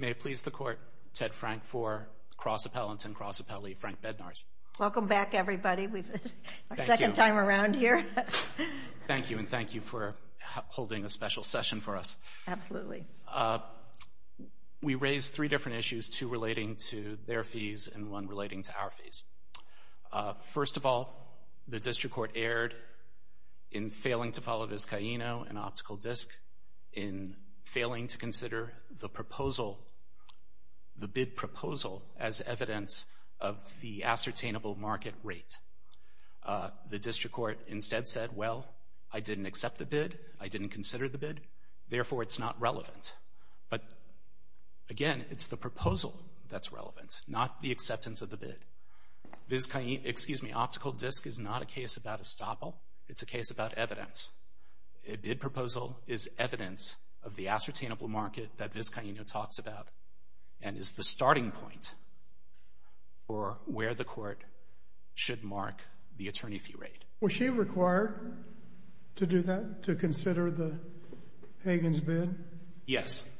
May it please the Court, Ted Frank IV, Cross Appellant and Cross Appellee Frank Bednarz. Welcome back everybody, our second time around here. Thank you and thank you for holding a special session for us. Absolutely. We raised three different issues, two relating to their fees and one relating to our fees. First of all, the District Court erred in failing to follow Vizcaíno and Optical Disc, in failing to consider the proposal, the bid proposal as evidence of the ascertainable market rate. The District Court instead said, well, I didn't accept the bid, I didn't consider the bid, therefore it's not relevant. But again, it's the proposal that's relevant, not the acceptance of the bid. Vizcaíno, excuse me, Optical Disc is not a case about estoppel, it's a case about evidence. A bid proposal is evidence of the ascertainable market that Vizcaíno talks about and is the starting point for where the Court should mark the attorney fee rate. Was she required to do that, to consider Hagan's bid? Yes.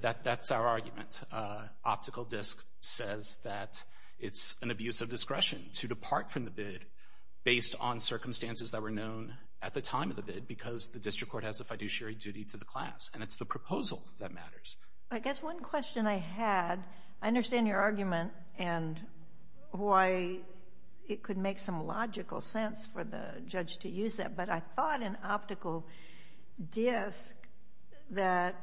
That's our argument. Optical Disc says that it's an abuse of discretion to depart from the bid based on circumstances that were known at the time of the bid because the District Court has a fiduciary duty to the class and it's the proposal that matters. I guess one question I had, I understand your argument and why it could make some logical sense for the judge to use that, but I thought in Optical Disc that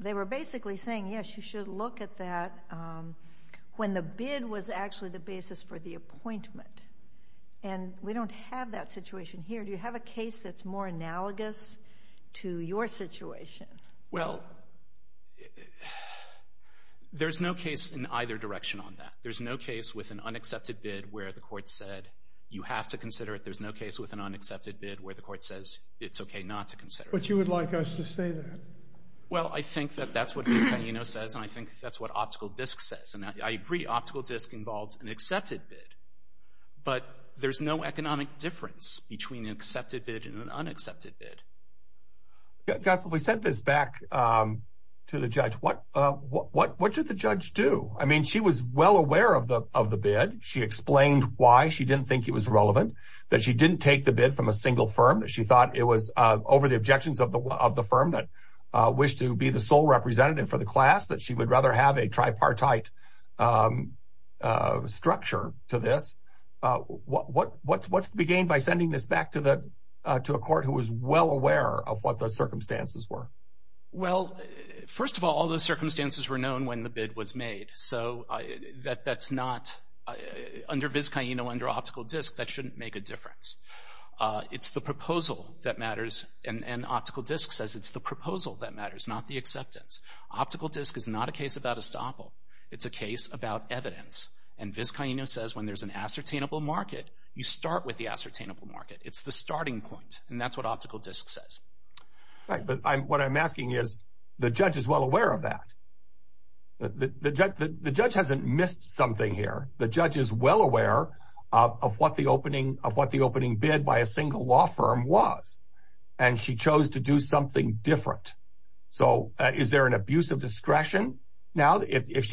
they were basically saying, yes, you should look at that when the bid was actually the basis for the appointment. And we don't have that situation here. Do you have a case that's more analogous to your situation? Well, there's no case in either direction on that. There's no case with an unaccepted bid where the Court said you have to consider it. There's no case with an unaccepted bid where the Court says it's okay not to consider it. But you would like us to say that. Well, I think that that's what Vizcaíno says and I think that's what Optical Disc says. And I agree Optical Disc involves an accepted bid, but there's no economic difference between an accepted bid and an unaccepted bid. We sent this back to the judge. What should the judge do? I mean, she was well aware of the bid. She explained why she didn't think it was relevant, that she didn't take the bid from a single firm, that she thought it was over the objections of the firm that wished to be the sole representative for the class, that she would rather have a tripartite structure to this. What's the gain by sending this back to a court who was well aware of what the circumstances were? Well, first of all, all those circumstances were known when the bid was made. So that's not, under Vizcaíno, under Optical Disc, that shouldn't make a difference. It's the proposal that matters, and Optical Disc says it's the proposal that matters, not the acceptance. Optical Disc is not a case about estoppel. It's a case about evidence. And Vizcaíno says when there's an ascertainable market, you start with the ascertainable market. It's the starting point, and that's what Optical Disc says. Right, but what I'm asking is, the judge is well aware of that. The judge hasn't missed something here. The judge is well aware of what the opening bid by a single law firm was, and she chose to do something different. So is there an abuse of discretion now? If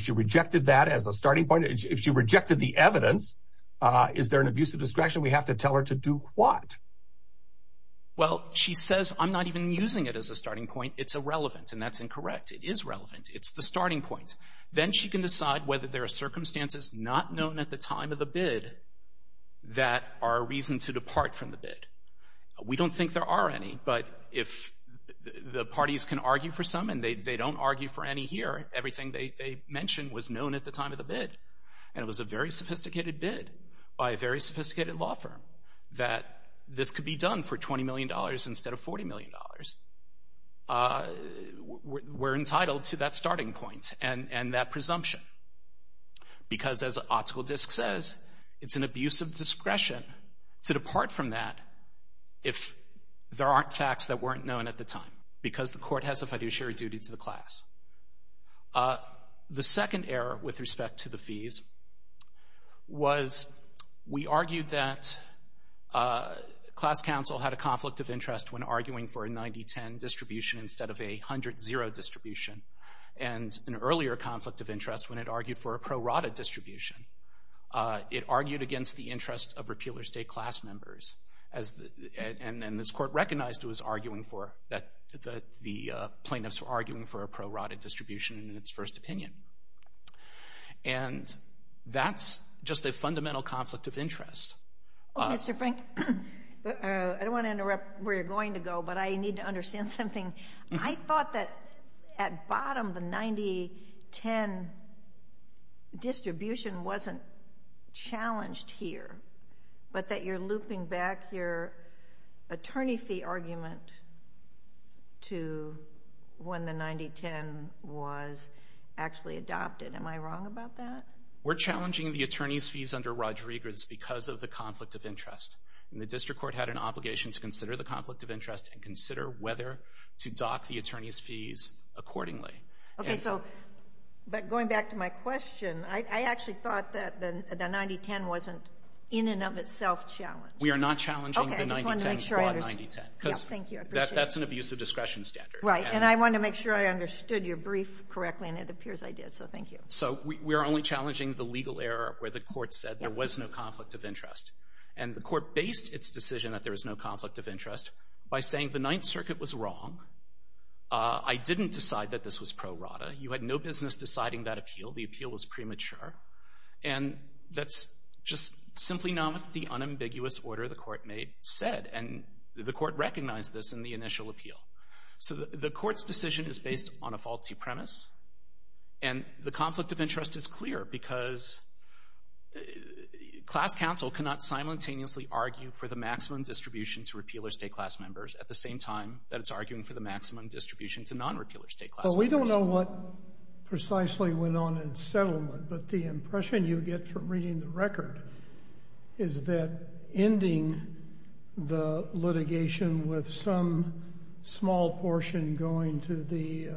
she rejected that as a starting point, if she rejected the evidence, is there an abuse of discretion? We have to tell her to do what? Well, she says, I'm not even using it as a starting point. It's irrelevant, and that's incorrect. It is relevant. It's the starting point. Then she can decide whether there are circumstances not known at the time of the bid that are a reason to depart from the bid. We don't think there are any, but if the parties can argue for some, and they don't argue for any here, everything they mentioned was known at the time of the bid, and it was a very sophisticated bid by a very sophisticated law firm that this could be done for $20 million instead of $40 million. We're entitled to that starting point and that presumption, because as the optical disk says, it's an abuse of discretion to depart from that if there aren't facts that weren't known at the time because the court has a fiduciary duty to the class. The second error with respect to the fees was we argued that class counsel had a conflict of interest when arguing for a 90-10 distribution instead of a 100-0 distribution, and an earlier conflict of interest when it argued for a pro rata distribution. It argued against the interest of repealer state class members, and then this court recognized it was arguing for, that the plaintiffs were arguing for a pro rata distribution in its first opinion. And that's just a fundamental conflict of interest. Well, Mr. Frank, I don't want to interrupt where you're going to go, but I need to understand something. I thought that at bottom the 90-10 distribution wasn't challenged here, but that you're looping back your attorney fee argument to when the 90-10 was actually adopted. Am I wrong about that? We're challenging the attorney's fees under Rodriguez because of the conflict of interest, and the district court had an obligation to consider the conflict of interest and consider whether to dock the attorney's fees accordingly. Okay, so, but going back to my question, I actually thought that the 90-10 wasn't in and of itself challenged. We are not challenging the 90-10. Okay, I just wanted to make sure I understood. Because that's an abuse of discretion standard. Right, and I wanted to make sure I understood your brief correctly, and it appears I did, so thank you. So we are only challenging the legal error where the court said there was no conflict of interest, and the court based its decision that there was no conflict of interest by saying the Ninth Circuit was wrong. I didn't decide that this was pro rata. You had no business deciding that appeal. The appeal was premature, and that's just simply not what the unambiguous order the court made said, and the court recognized this in the initial appeal. So the court's decision is based on a faulty premise, and the conflict of interest is clear because class counsel cannot simultaneously argue for the maximum distribution to repealer state class members at the same time that it's arguing for the maximum distribution to non-repealer state class members. Well, we don't know what precisely went on in settlement, but the impression you get from reading the record is that ending the litigation with some small portion going to the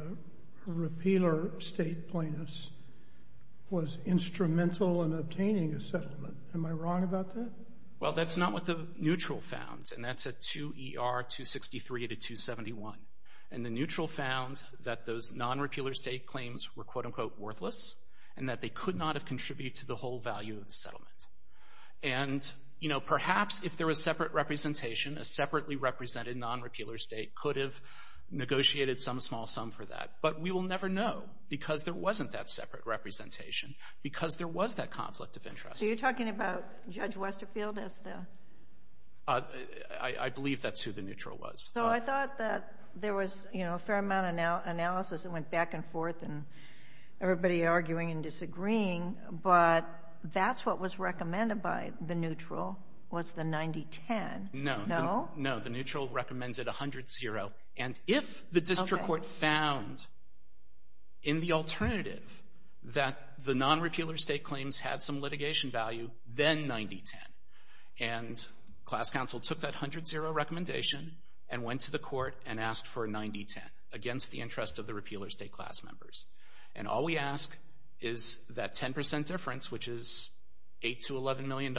repealer state plaintiffs was instrumental in obtaining a settlement. Am I wrong about that? Well, that's not what the neutral found, and that's a 2 ER 263 to 271, and the neutral found that those non-repealer state claims were quote-unquote worthless and that they could not have contributed to the whole value of the settlement. And, you know, perhaps if there was separate representation, a separately represented non-repealer state could have negotiated some small sum for that, but we will never know because there wasn't that separate representation, because there was that conflict of interest. So you're talking about Judge Westerfield as the? I believe that's who the neutral was. So I thought that there was, you know, a fair amount of analysis that went back and forth and everybody arguing and disagreeing, but that's what was recommended by the neutral was the 90-10. No? No, the neutral recommended 100-0, and if the district court found in the alternative that the non-repealer state claims had some litigation value, then 90-10. And class counsel took that 100-0 recommendation and went to the court and asked for 90-10 against the interest of the repealer state class members. And all we ask is that 10% difference, which is $8 to $11 million,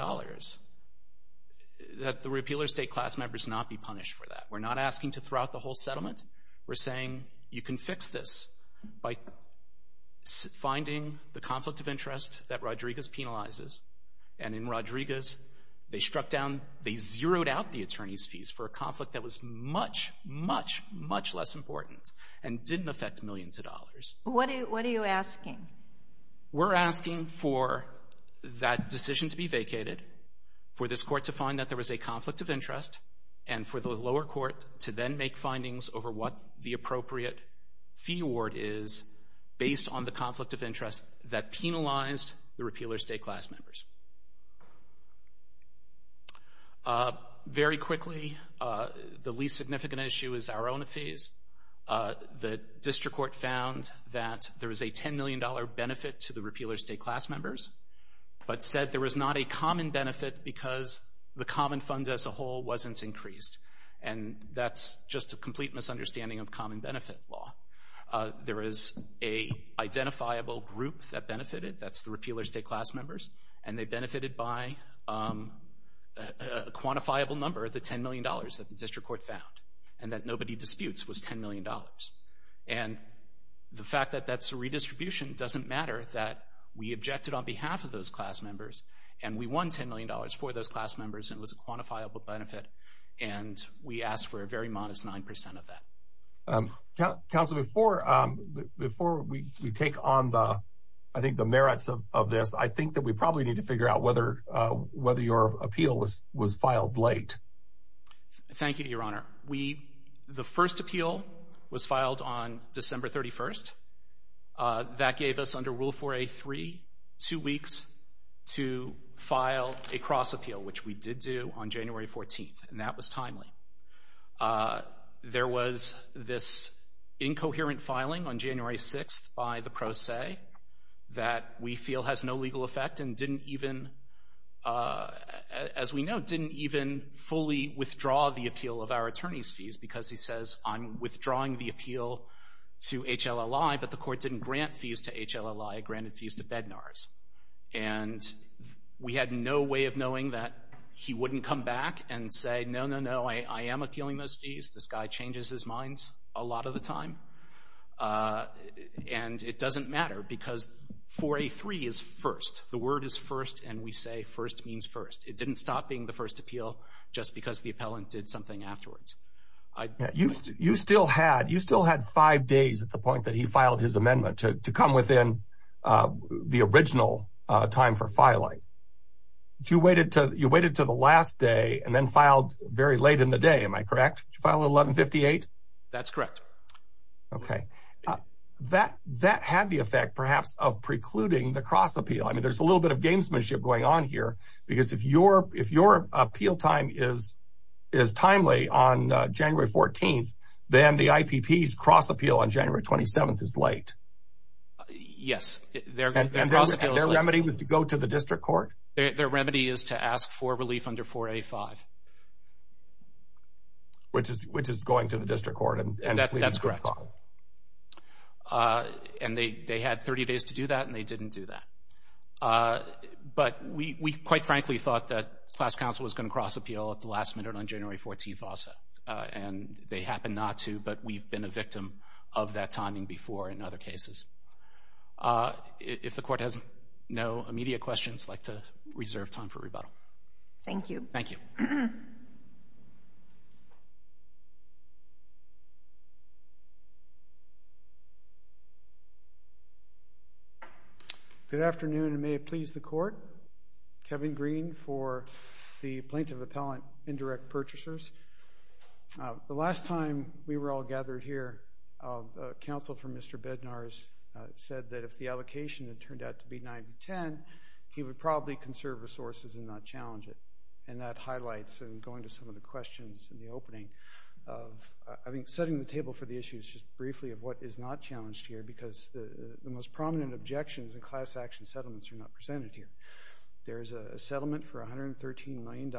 that the repealer state class members not be punished for that. We're not asking to throw out the whole settlement. We're saying you can fix this by finding the conflict of interest that Rodriguez penalizes, and in Rodriguez they struck down, they zeroed out the attorney's fees for a conflict that was much, much, much less important and didn't affect millions of dollars. What are you asking? We're asking for that decision to be vacated, for this court to find that there was a conflict of interest, and for the lower court to then make findings over what the appropriate fee award is based on the conflict of interest that penalized the repealer state class members. Very quickly, the least significant issue is our own fees. The district court found that there was a $10 million benefit to the repealer state class members, but said there was not a common benefit because the common fund as a whole wasn't increased. And that's just a complete misunderstanding of common benefit law. There is an identifiable group that benefited, that's the repealer state class members, and they benefited by a quantifiable number, the $10 million that the district court found, and that nobody disputes was $10 million. And the fact that that's a redistribution doesn't matter, that we objected on behalf of those class members, and we won $10 million for those class members, and it was a quantifiable benefit, and we asked for a very modest 9% of that. Counsel, before we take on, I think, the merits of this, I think that we probably need to figure out whether your appeal was filed late. Thank you, Your Honor. The first appeal was filed on December 31st. That gave us, under Rule 4a.3, two weeks to file a cross-appeal, which we did do on January 14th, and that was timely. There was this incoherent filing on January 6th by the pro se that we feel has no legal effect and didn't even, as we know, didn't even fully withdraw the appeal of our attorney's fees because he says, I'm withdrawing the appeal to HLLI, but the court didn't grant fees to HLLI, it granted fees to Bednar's. And we had no way of knowing that he wouldn't come back and say, no, no, no, I am appealing those fees, this guy changes his minds a lot of the time, and it doesn't matter because 4a.3 is first. The word is first, and we say first means first. It didn't stop being the first appeal just because the appellant did something afterwards. You still had five days at the point that he filed his amendment to come within the original time for filing. You waited until the last day and then filed very late in the day, am I correct? Did you file at 1158? That's correct. Okay. That had the effect, perhaps, of precluding the cross-appeal. I mean, there's a little bit of gamesmanship going on here because if your appeal time is timely on January 14th, then the IPP's cross-appeal on January 27th is late. Yes. And their remedy was to go to the district court? Their remedy is to ask for relief under 4a.5. Which is going to the district court and pleading for a clause. That's correct. And they had 30 days to do that, and they didn't do that. But we quite frankly thought that class counsel was going to cross-appeal at the last minute on January 14th also, and they happened not to, but we've been a victim of that timing before in other cases. If the court has no immediate questions, I'd like to reserve time for rebuttal. Thank you. Thank you. Good afternoon, and may it please the court. Kevin Green for the Plaintiff Appellant Indirect Purchasers. The last time we were all gathered here, counsel for Mr. Bednarz said that if the allocation had turned out to be 9 to 10, he would probably conserve resources and not challenge it, and that highlights in going to some of the questions in the opening of, I think, setting the table for the issues just briefly of what is not challenged here, because the most prominent objections in class action settlements are not presented here. There's a settlement for $113 million.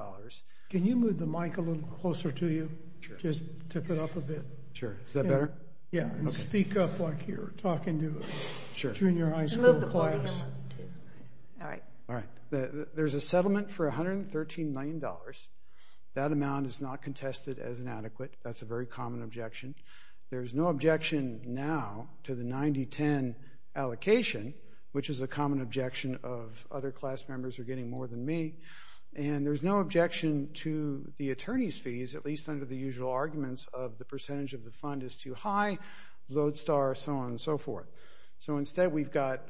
Can you move the mic a little closer to you? Sure. Just tip it up a bit. Sure. Is that better? Yeah. And speak up like you're talking to junior high school class. All right. All right. There's a settlement for $113 million. That amount is not contested as inadequate. That's a very common objection. There's no objection now to the 9 to 10 allocation, which is a common objection of other class members are getting more than me, and there's no objection to the attorney's fees, at least under the usual arguments of the percentage of the fund is too high, Lodestar, so on and so forth. So instead we've got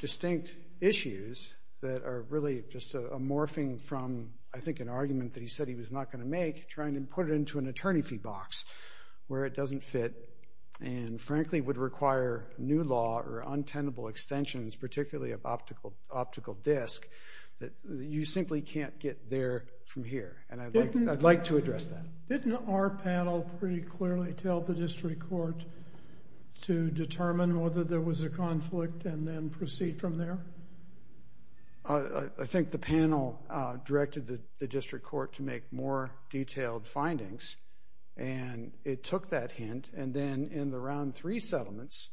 distinct issues that are really just a morphing from, I think, an argument that he said he was not going to make, trying to put it into an attorney fee box where it doesn't fit and frankly would require new law or untenable extensions, particularly of optical disk, that you simply can't get there from here, and I'd like to address that. Didn't our panel pretty clearly tell the district court to determine whether there was a conflict and then proceed from there? I think the panel directed the district court to make more detailed findings, and it took that hint, and then in the round three settlements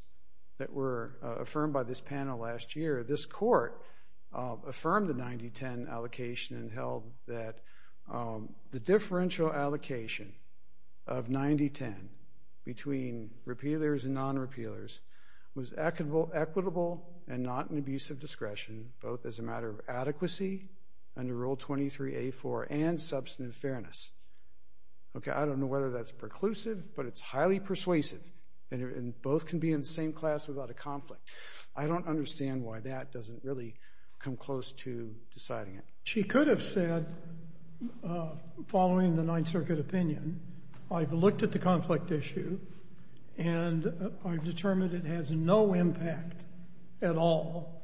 that were affirmed by this panel last year, this court affirmed the 9 to 10 allocation and held that the differential allocation of 9 to 10 between repealers and non-repealers was equitable and not an abuse of discretion, both as a matter of adequacy under Rule 23A4 and substantive fairness. Okay, I don't know whether that's preclusive, but it's highly persuasive, and both can be in the same class without a conflict. I don't understand why that doesn't really come close to deciding it. She could have said, following the Ninth Circuit opinion, I've looked at the conflict issue, and I've determined it has no impact at all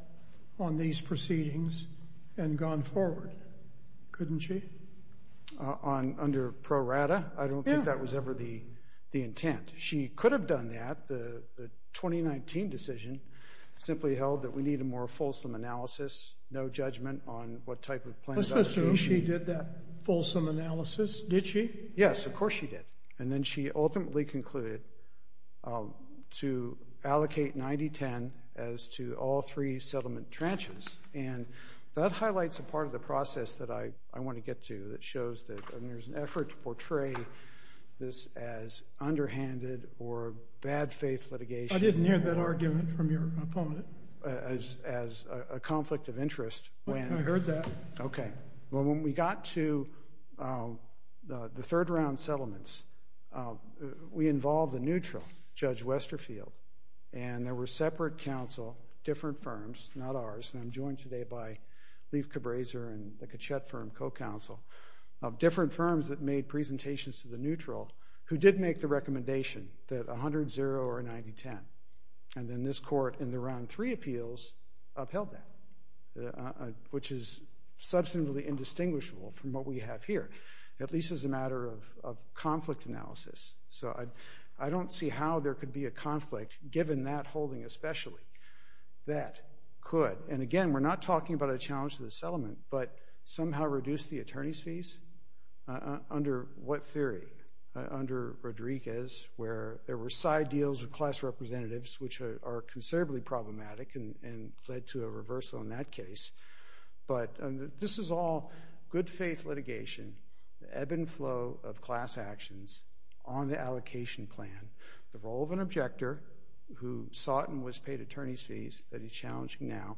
on these proceedings and gone forward, couldn't she? Under pro rata? Yeah. I don't think that was ever the intent. She could have done that. The 2019 decision simply held that we need a more fulsome analysis, no judgment on what type of plan of allocation. She did that fulsome analysis, did she? Yes, of course she did. And then she ultimately concluded to allocate 9 to 10 as to all three settlement tranches. And that highlights a part of the process that I want to get to that shows that there's an effort to portray this as underhanded or bad faith litigation. I didn't hear that argument from your opponent. As a conflict of interest. I heard that. Okay. Well, when we got to the third round settlements, we involved a neutral, Judge Westerfield, and there were separate counsel, different firms, not ours, and I'm joined today by Leif Cabraser and the Kachet firm co-counsel, of different firms that made presentations to the neutral who did make the recommendation that 100-0 or 90-10. And then this court in the round three appeals upheld that, which is substantially indistinguishable from what we have here, at least as a matter of conflict analysis. So I don't see how there could be a conflict, given that holding especially, that could. And, again, we're not talking about a challenge to the settlement, but somehow reduce the attorney's fees. Under what theory? Under Rodriguez, where there were side deals with class representatives, which are considerably problematic and led to a reversal in that case. But this is all good-faith litigation, ebb and flow of class actions on the allocation plan, the role of an objector who sought and was paid attorney's fees, that is challenging now,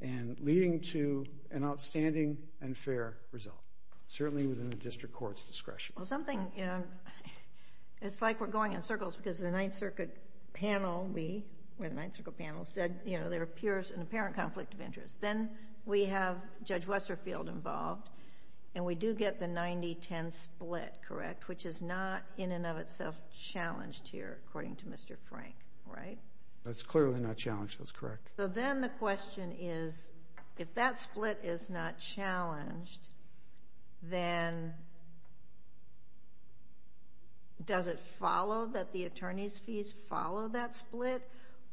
and leading to an outstanding and fair result, certainly within the district court's discretion. Well, something, you know, it's like we're going in circles because the Ninth Circuit panel, we, we're the Ninth Circuit panel, said, you know, there appears an apparent conflict of interest. Then we have Judge Westerfield involved, and we do get the 90-10 split, correct, which is not in and of itself challenged here, according to Mr. Frank, right? That's clearly not challenged. That's correct. So then the question is, if that split is not challenged, then does it follow that the attorney's fees follow that split,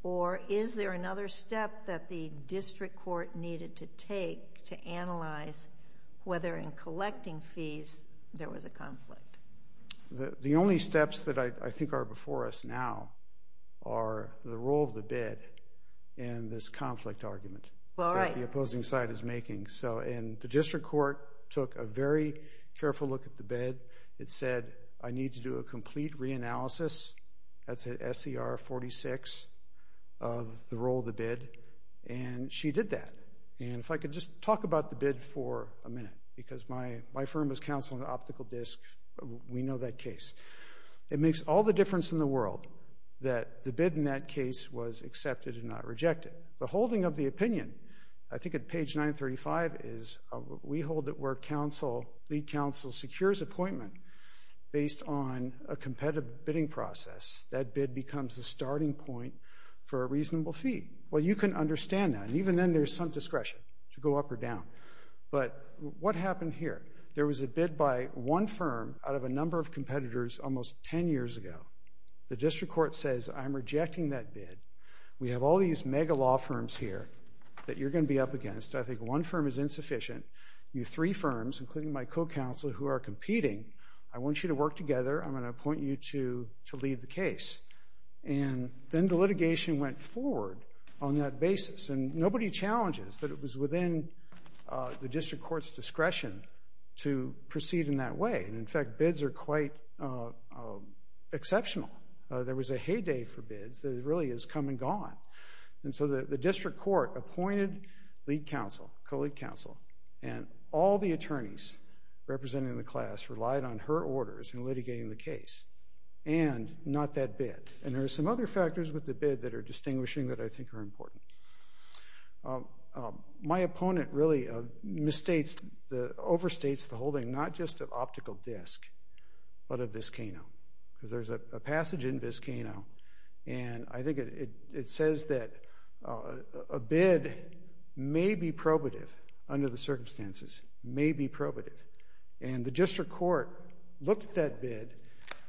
or is there another step that the district court needed to take to analyze whether in collecting fees there was a conflict? The only steps that I think are before us now are the role of the bid and this conflict argument that the opposing side is making. So, and the district court took a very careful look at the bid. It said, I need to do a complete reanalysis. That's at SCR 46 of the role of the bid. And she did that. And if I could just talk about the bid for a minute, because my firm is counsel in the optical disc. We know that case. It makes all the difference in the world that the bid in that case was accepted and not rejected. The holding of the opinion, I think at page 935, is we hold it where lead counsel secures appointment based on a competitive bidding process. That bid becomes the starting point for a reasonable fee. Well, you can understand that, and even then there's some discretion to go up or down. But what happened here? There was a bid by one firm out of a number of competitors almost 10 years ago. The district court says, I'm rejecting that bid. We have all these mega law firms here that you're going to be up against. I think one firm is insufficient. You three firms, including my co-counselor, who are competing, I want you to work together. I'm going to appoint you to lead the case. And then the litigation went forward on that basis, and nobody challenges that it was within the district court's discretion to proceed in that way. And in fact, bids are quite exceptional. There was a heyday for bids. It really has come and gone. And so the district court appointed lead counsel, co-lead counsel, and all the attorneys representing the class relied on her orders in litigating the case and not that bid. And there are some other factors with the bid that are distinguishing that I think are important. My opponent really overstates the holding not just of optical disk but of Vizcano because there's a passage in Vizcano and I think it says that a bid may be probative under the circumstances, may be probative. And the district court looked at that bid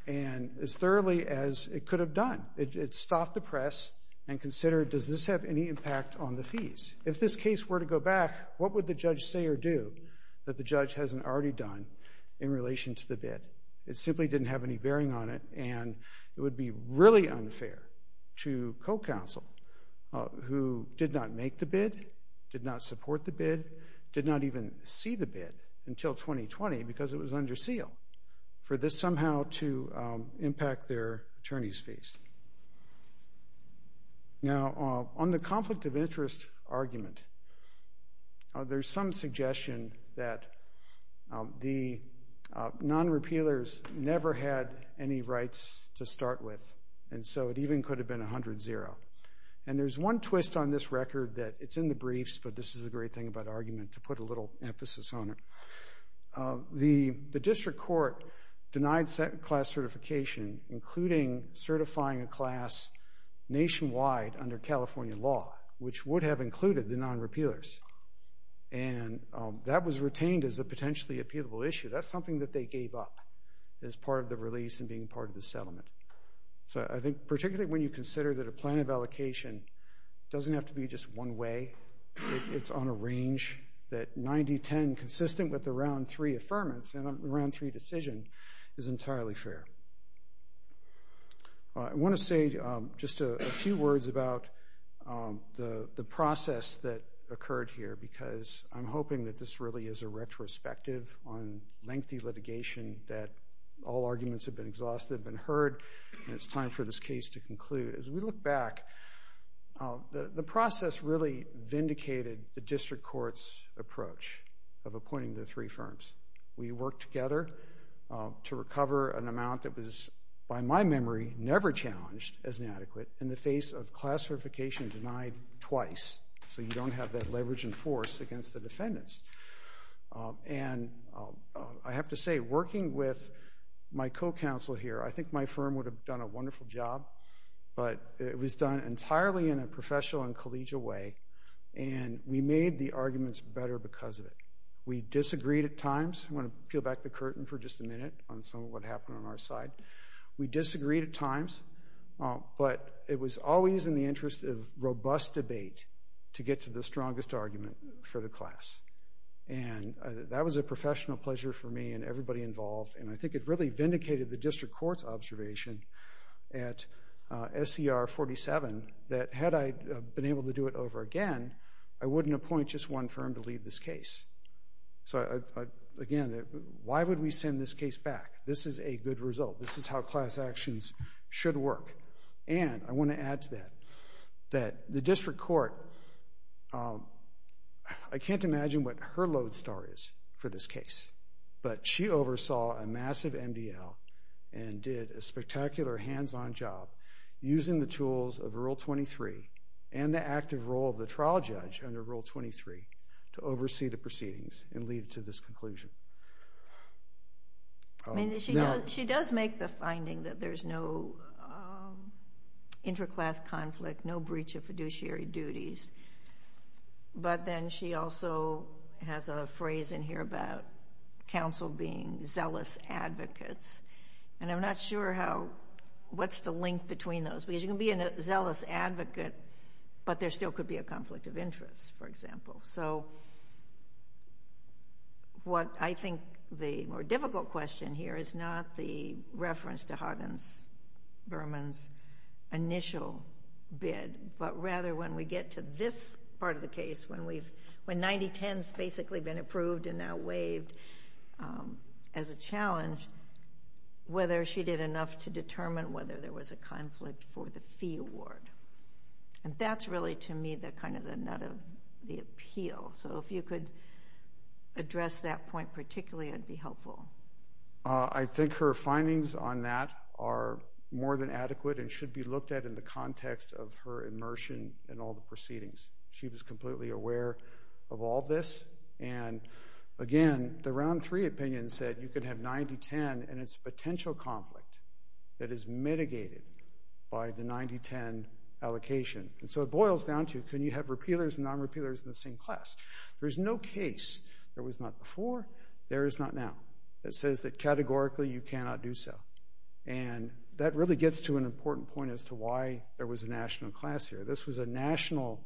and as thoroughly as it could have done, it stopped the press and considered, does this have any impact on the fees? If this case were to go back, what would the judge say or do that the judge hasn't already done in relation to the bid? It simply didn't have any bearing on it and it would be really unfair to co-counsel who did not make the bid, did not support the bid, did not even see the bid until 2020 because it was under seal for this somehow to impact their attorney's fees. Now, on the conflict of interest argument, there's some suggestion that the non-repealers never had any rights to start with and so it even could have been 100-0. And there's one twist on this record that it's in the briefs, but this is a great thing about argument to put a little emphasis on it. The district court denied second-class certification including certifying a class nationwide under California law which would have included the non-repealers and that was retained as a potentially appealable issue. That's something that they gave up as part of the release and being part of the settlement. So I think particularly when you consider that a plan of allocation doesn't have to be just one way, it's on a range that 90-10 consistent with the Round 3 affirmance and the Round 3 decision is entirely fair. I want to say just a few words about the process that occurred here because I'm hoping that this really is a retrospective on lengthy litigation that all arguments have been exhausted and heard and it's time for this case to conclude. As we look back, the process really vindicated the district court's approach of appointing the three firms. We worked together to recover an amount that was by my memory never challenged as inadequate in the face of class certification denied twice so you don't have that leverage and force against the defendants. And I have to say, working with my co-counsel here, I think my firm would have done a wonderful job, but it was done entirely in a professional and collegial way and we made the arguments better because of it. We disagreed at times. I'm going to peel back the curtain for just a minute on some of what happened on our side. We disagreed at times, but it was always in the interest of robust debate to get to the strongest argument for the class. And that was a professional pleasure for me and everybody involved, and I think it really vindicated the district court's observation at SCR 47 that had I been able to do it over again, I wouldn't appoint just one firm to lead this case. So again, why would we send this case back? This is a good result. This is how class actions should work. And I want to add to that that the district court, I can't imagine what her lodestar is for this case, but she oversaw a massive MDL and did a spectacular hands-on job using the tools of Rule 23 and the active role of the trial judge under Rule 23 to oversee the proceedings and lead to this conclusion. She does make the finding that there's no interclass conflict, no breach of fiduciary duties. But then she also has a phrase in here about counsel being zealous advocates, and I'm not sure what's the link between those, because you can be a zealous advocate, but there still could be a conflict of interest, for example. So what I think the more difficult question here is not the reference to Huggins-Berman's initial bid, but rather when we get to this part of the case, when 90-10's basically been approved and now waived as a challenge, whether she did enough to determine whether there was a conflict for the fee award. And that's really, to me, kind of the nut of the appeal. So if you could address that point particularly, it would be helpful. I think her findings on that are more than adequate and should be looked at in the context of her immersion in all the proceedings. She was completely aware of all this. And again, the Round 3 opinion said you could have 90-10 and it's a potential conflict that is mitigated by the 90-10 allocation. And so it boils down to can you have repealers and non-repealers in the same class? There's no case there was not before, there is not now. It says that categorically you cannot do so. And that really gets to an important point as to why there was a national class here. This was a national,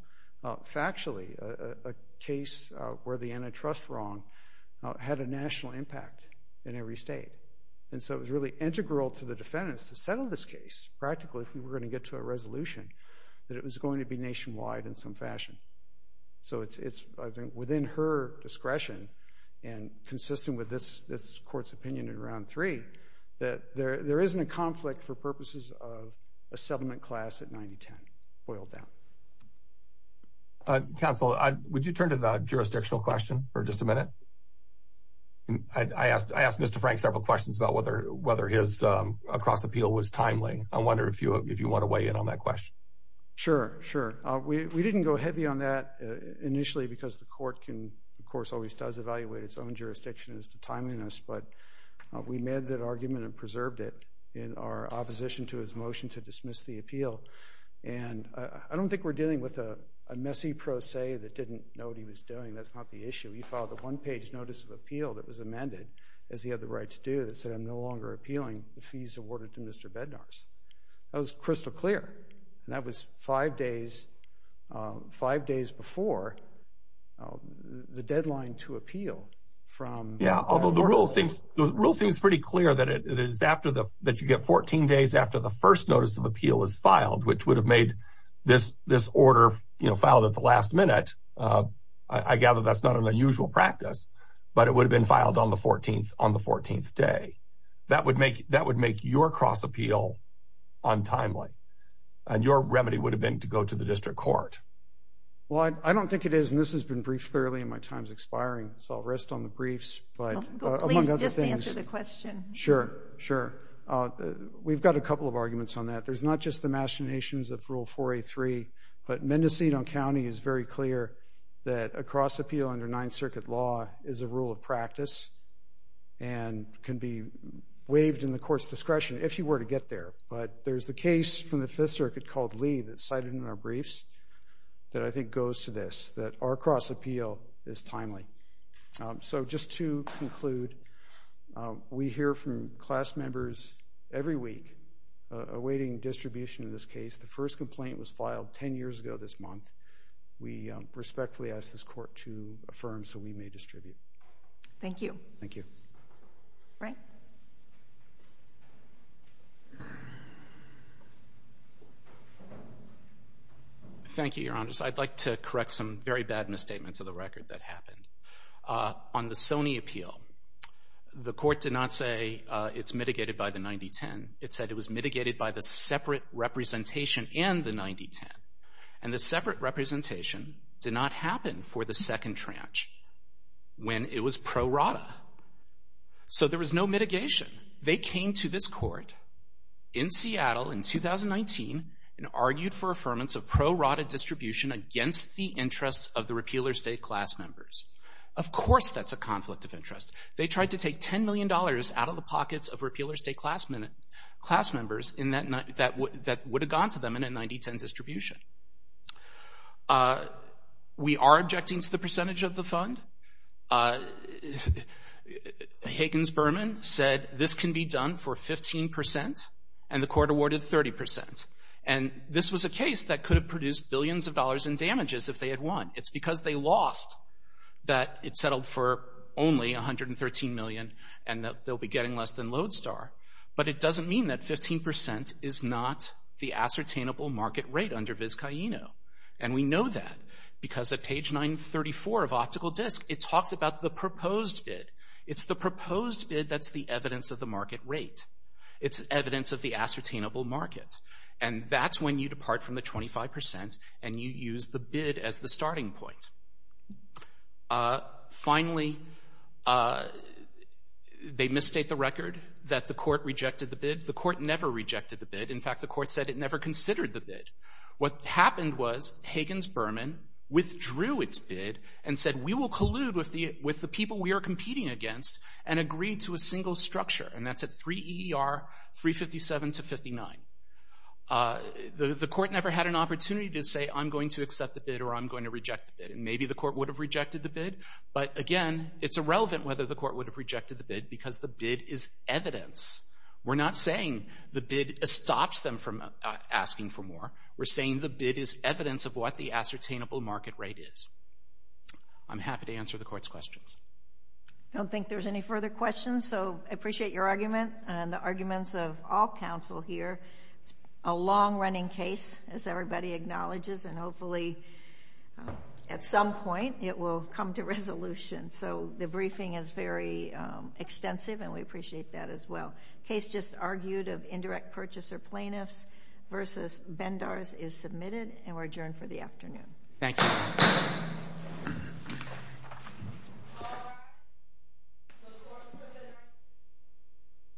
factually, a case where the antitrust wrong had a national impact in every state. And so it was really integral to the defendants to settle this case practically if we were going to get to a resolution that it was going to be nationwide in some fashion. So it's, I think, within her discretion and consistent with this court's opinion in Round 3 that there isn't a conflict for purposes of a settlement class at 90-10. Boiled down. Counsel, would you turn to the jurisdictional question for just a minute? I asked Mr. Frank several questions about whether his cross-appeal was timely. I wonder if you want to weigh in on that question. Sure, sure. We didn't go heavy on that initially because the court can, of course, always does evaluate its own jurisdiction as to timeliness, but we made that argument and preserved it in our opposition to his motion to dismiss the appeal. And I don't think we're dealing with a messy pro se that didn't know what he was doing. That's not the issue. He filed a one-page notice of appeal that was amended as he had the right to do that said, I'm no longer appealing the fees awarded to Mr. Bednarz. That was crystal clear. And that was five days before the deadline to appeal. Yeah, although the rule seems pretty clear that you get 14 days after the first notice of appeal is filed, which would have made this order filed at the last minute. I gather that's not an unusual practice, but it would have been filed on the 14th day. That would make your cross-appeal untimely. And your remedy would have been to go to the district court. Well, I don't think it is, and this has been briefed thoroughly and my time is expiring, so I'll rest on the briefs. Please just answer the question. Sure, sure. We've got a couple of arguments on that. There's not just the machinations of Rule 4A3, but Mendocino County is very clear that a cross-appeal under Ninth Circuit law is a rule of practice and can be waived in the court's discretion if you were to get there. But there's a case from the Fifth Circuit called Lee that's cited in our briefs that I think goes to this, that our cross-appeal is timely. So just to conclude, we hear from class members every week awaiting distribution of this case. The first complaint was filed 10 years ago this month. We respectfully ask this court to affirm so we may distribute. Thank you. Thank you. Frank? Thank you, Your Honors. I'd like to correct some very bad misstatements of the record that happened. On the Sony appeal, the court did not say it's mitigated by the 9010. It said it was mitigated by the separate representation in the 9010. And the separate representation did not happen for the second tranche when it was pro rata. So there was no mitigation. They came to this court in Seattle in 2019 and argued for affirmance of pro rata distribution against the interests of the repealer state class members. Of course that's a conflict of interest. They tried to take $10 million out of the pockets of repealer state class members that would have gone to them in a 9010 distribution. We are objecting to the percentage of the fund. Higgins Berman said this can be done for 15% and the court awarded 30%. And this was a case that could have produced billions of dollars in damages if they had won. It's because they lost that it settled for only $113 million and that they'll be getting less than Lodestar. But it doesn't mean that 15% is not the ascertainable market rate under Vizcaíno. And we know that because at page 934 of Optical Disc it talks about the proposed bid. It's the proposed bid that's the evidence of the market rate. It's evidence of the ascertainable market. And that's when you depart from the 25% and you use the bid as the starting point. Finally, they misstate the record that the court rejected the bid. The court never rejected the bid. In fact, the court said it never considered the bid. What happened was Higgins Berman withdrew its bid and said, we will collude with the people we are competing against and agree to a single structure. And that's at 3 EER 357 to 59. The court never had an opportunity to say, I'm going to accept the bid or I'm going to reject the bid. And maybe the court would have rejected the bid. But again, it's irrelevant whether the court would have rejected the bid because the bid is evidence. We're not saying the bid stops them from asking for more. We're saying the bid is evidence of what the ascertainable market rate is. I'm happy to answer the court's questions. I don't think there's any further questions, so I appreciate your argument and the arguments of all counsel here. A long-running case, as everybody acknowledges, and hopefully at some point it will come to resolution. So the briefing is very extensive and we appreciate that as well. Case just argued of indirect purchaser plaintiffs versus Bendars is submitted and we're adjourned for the afternoon. Thank you.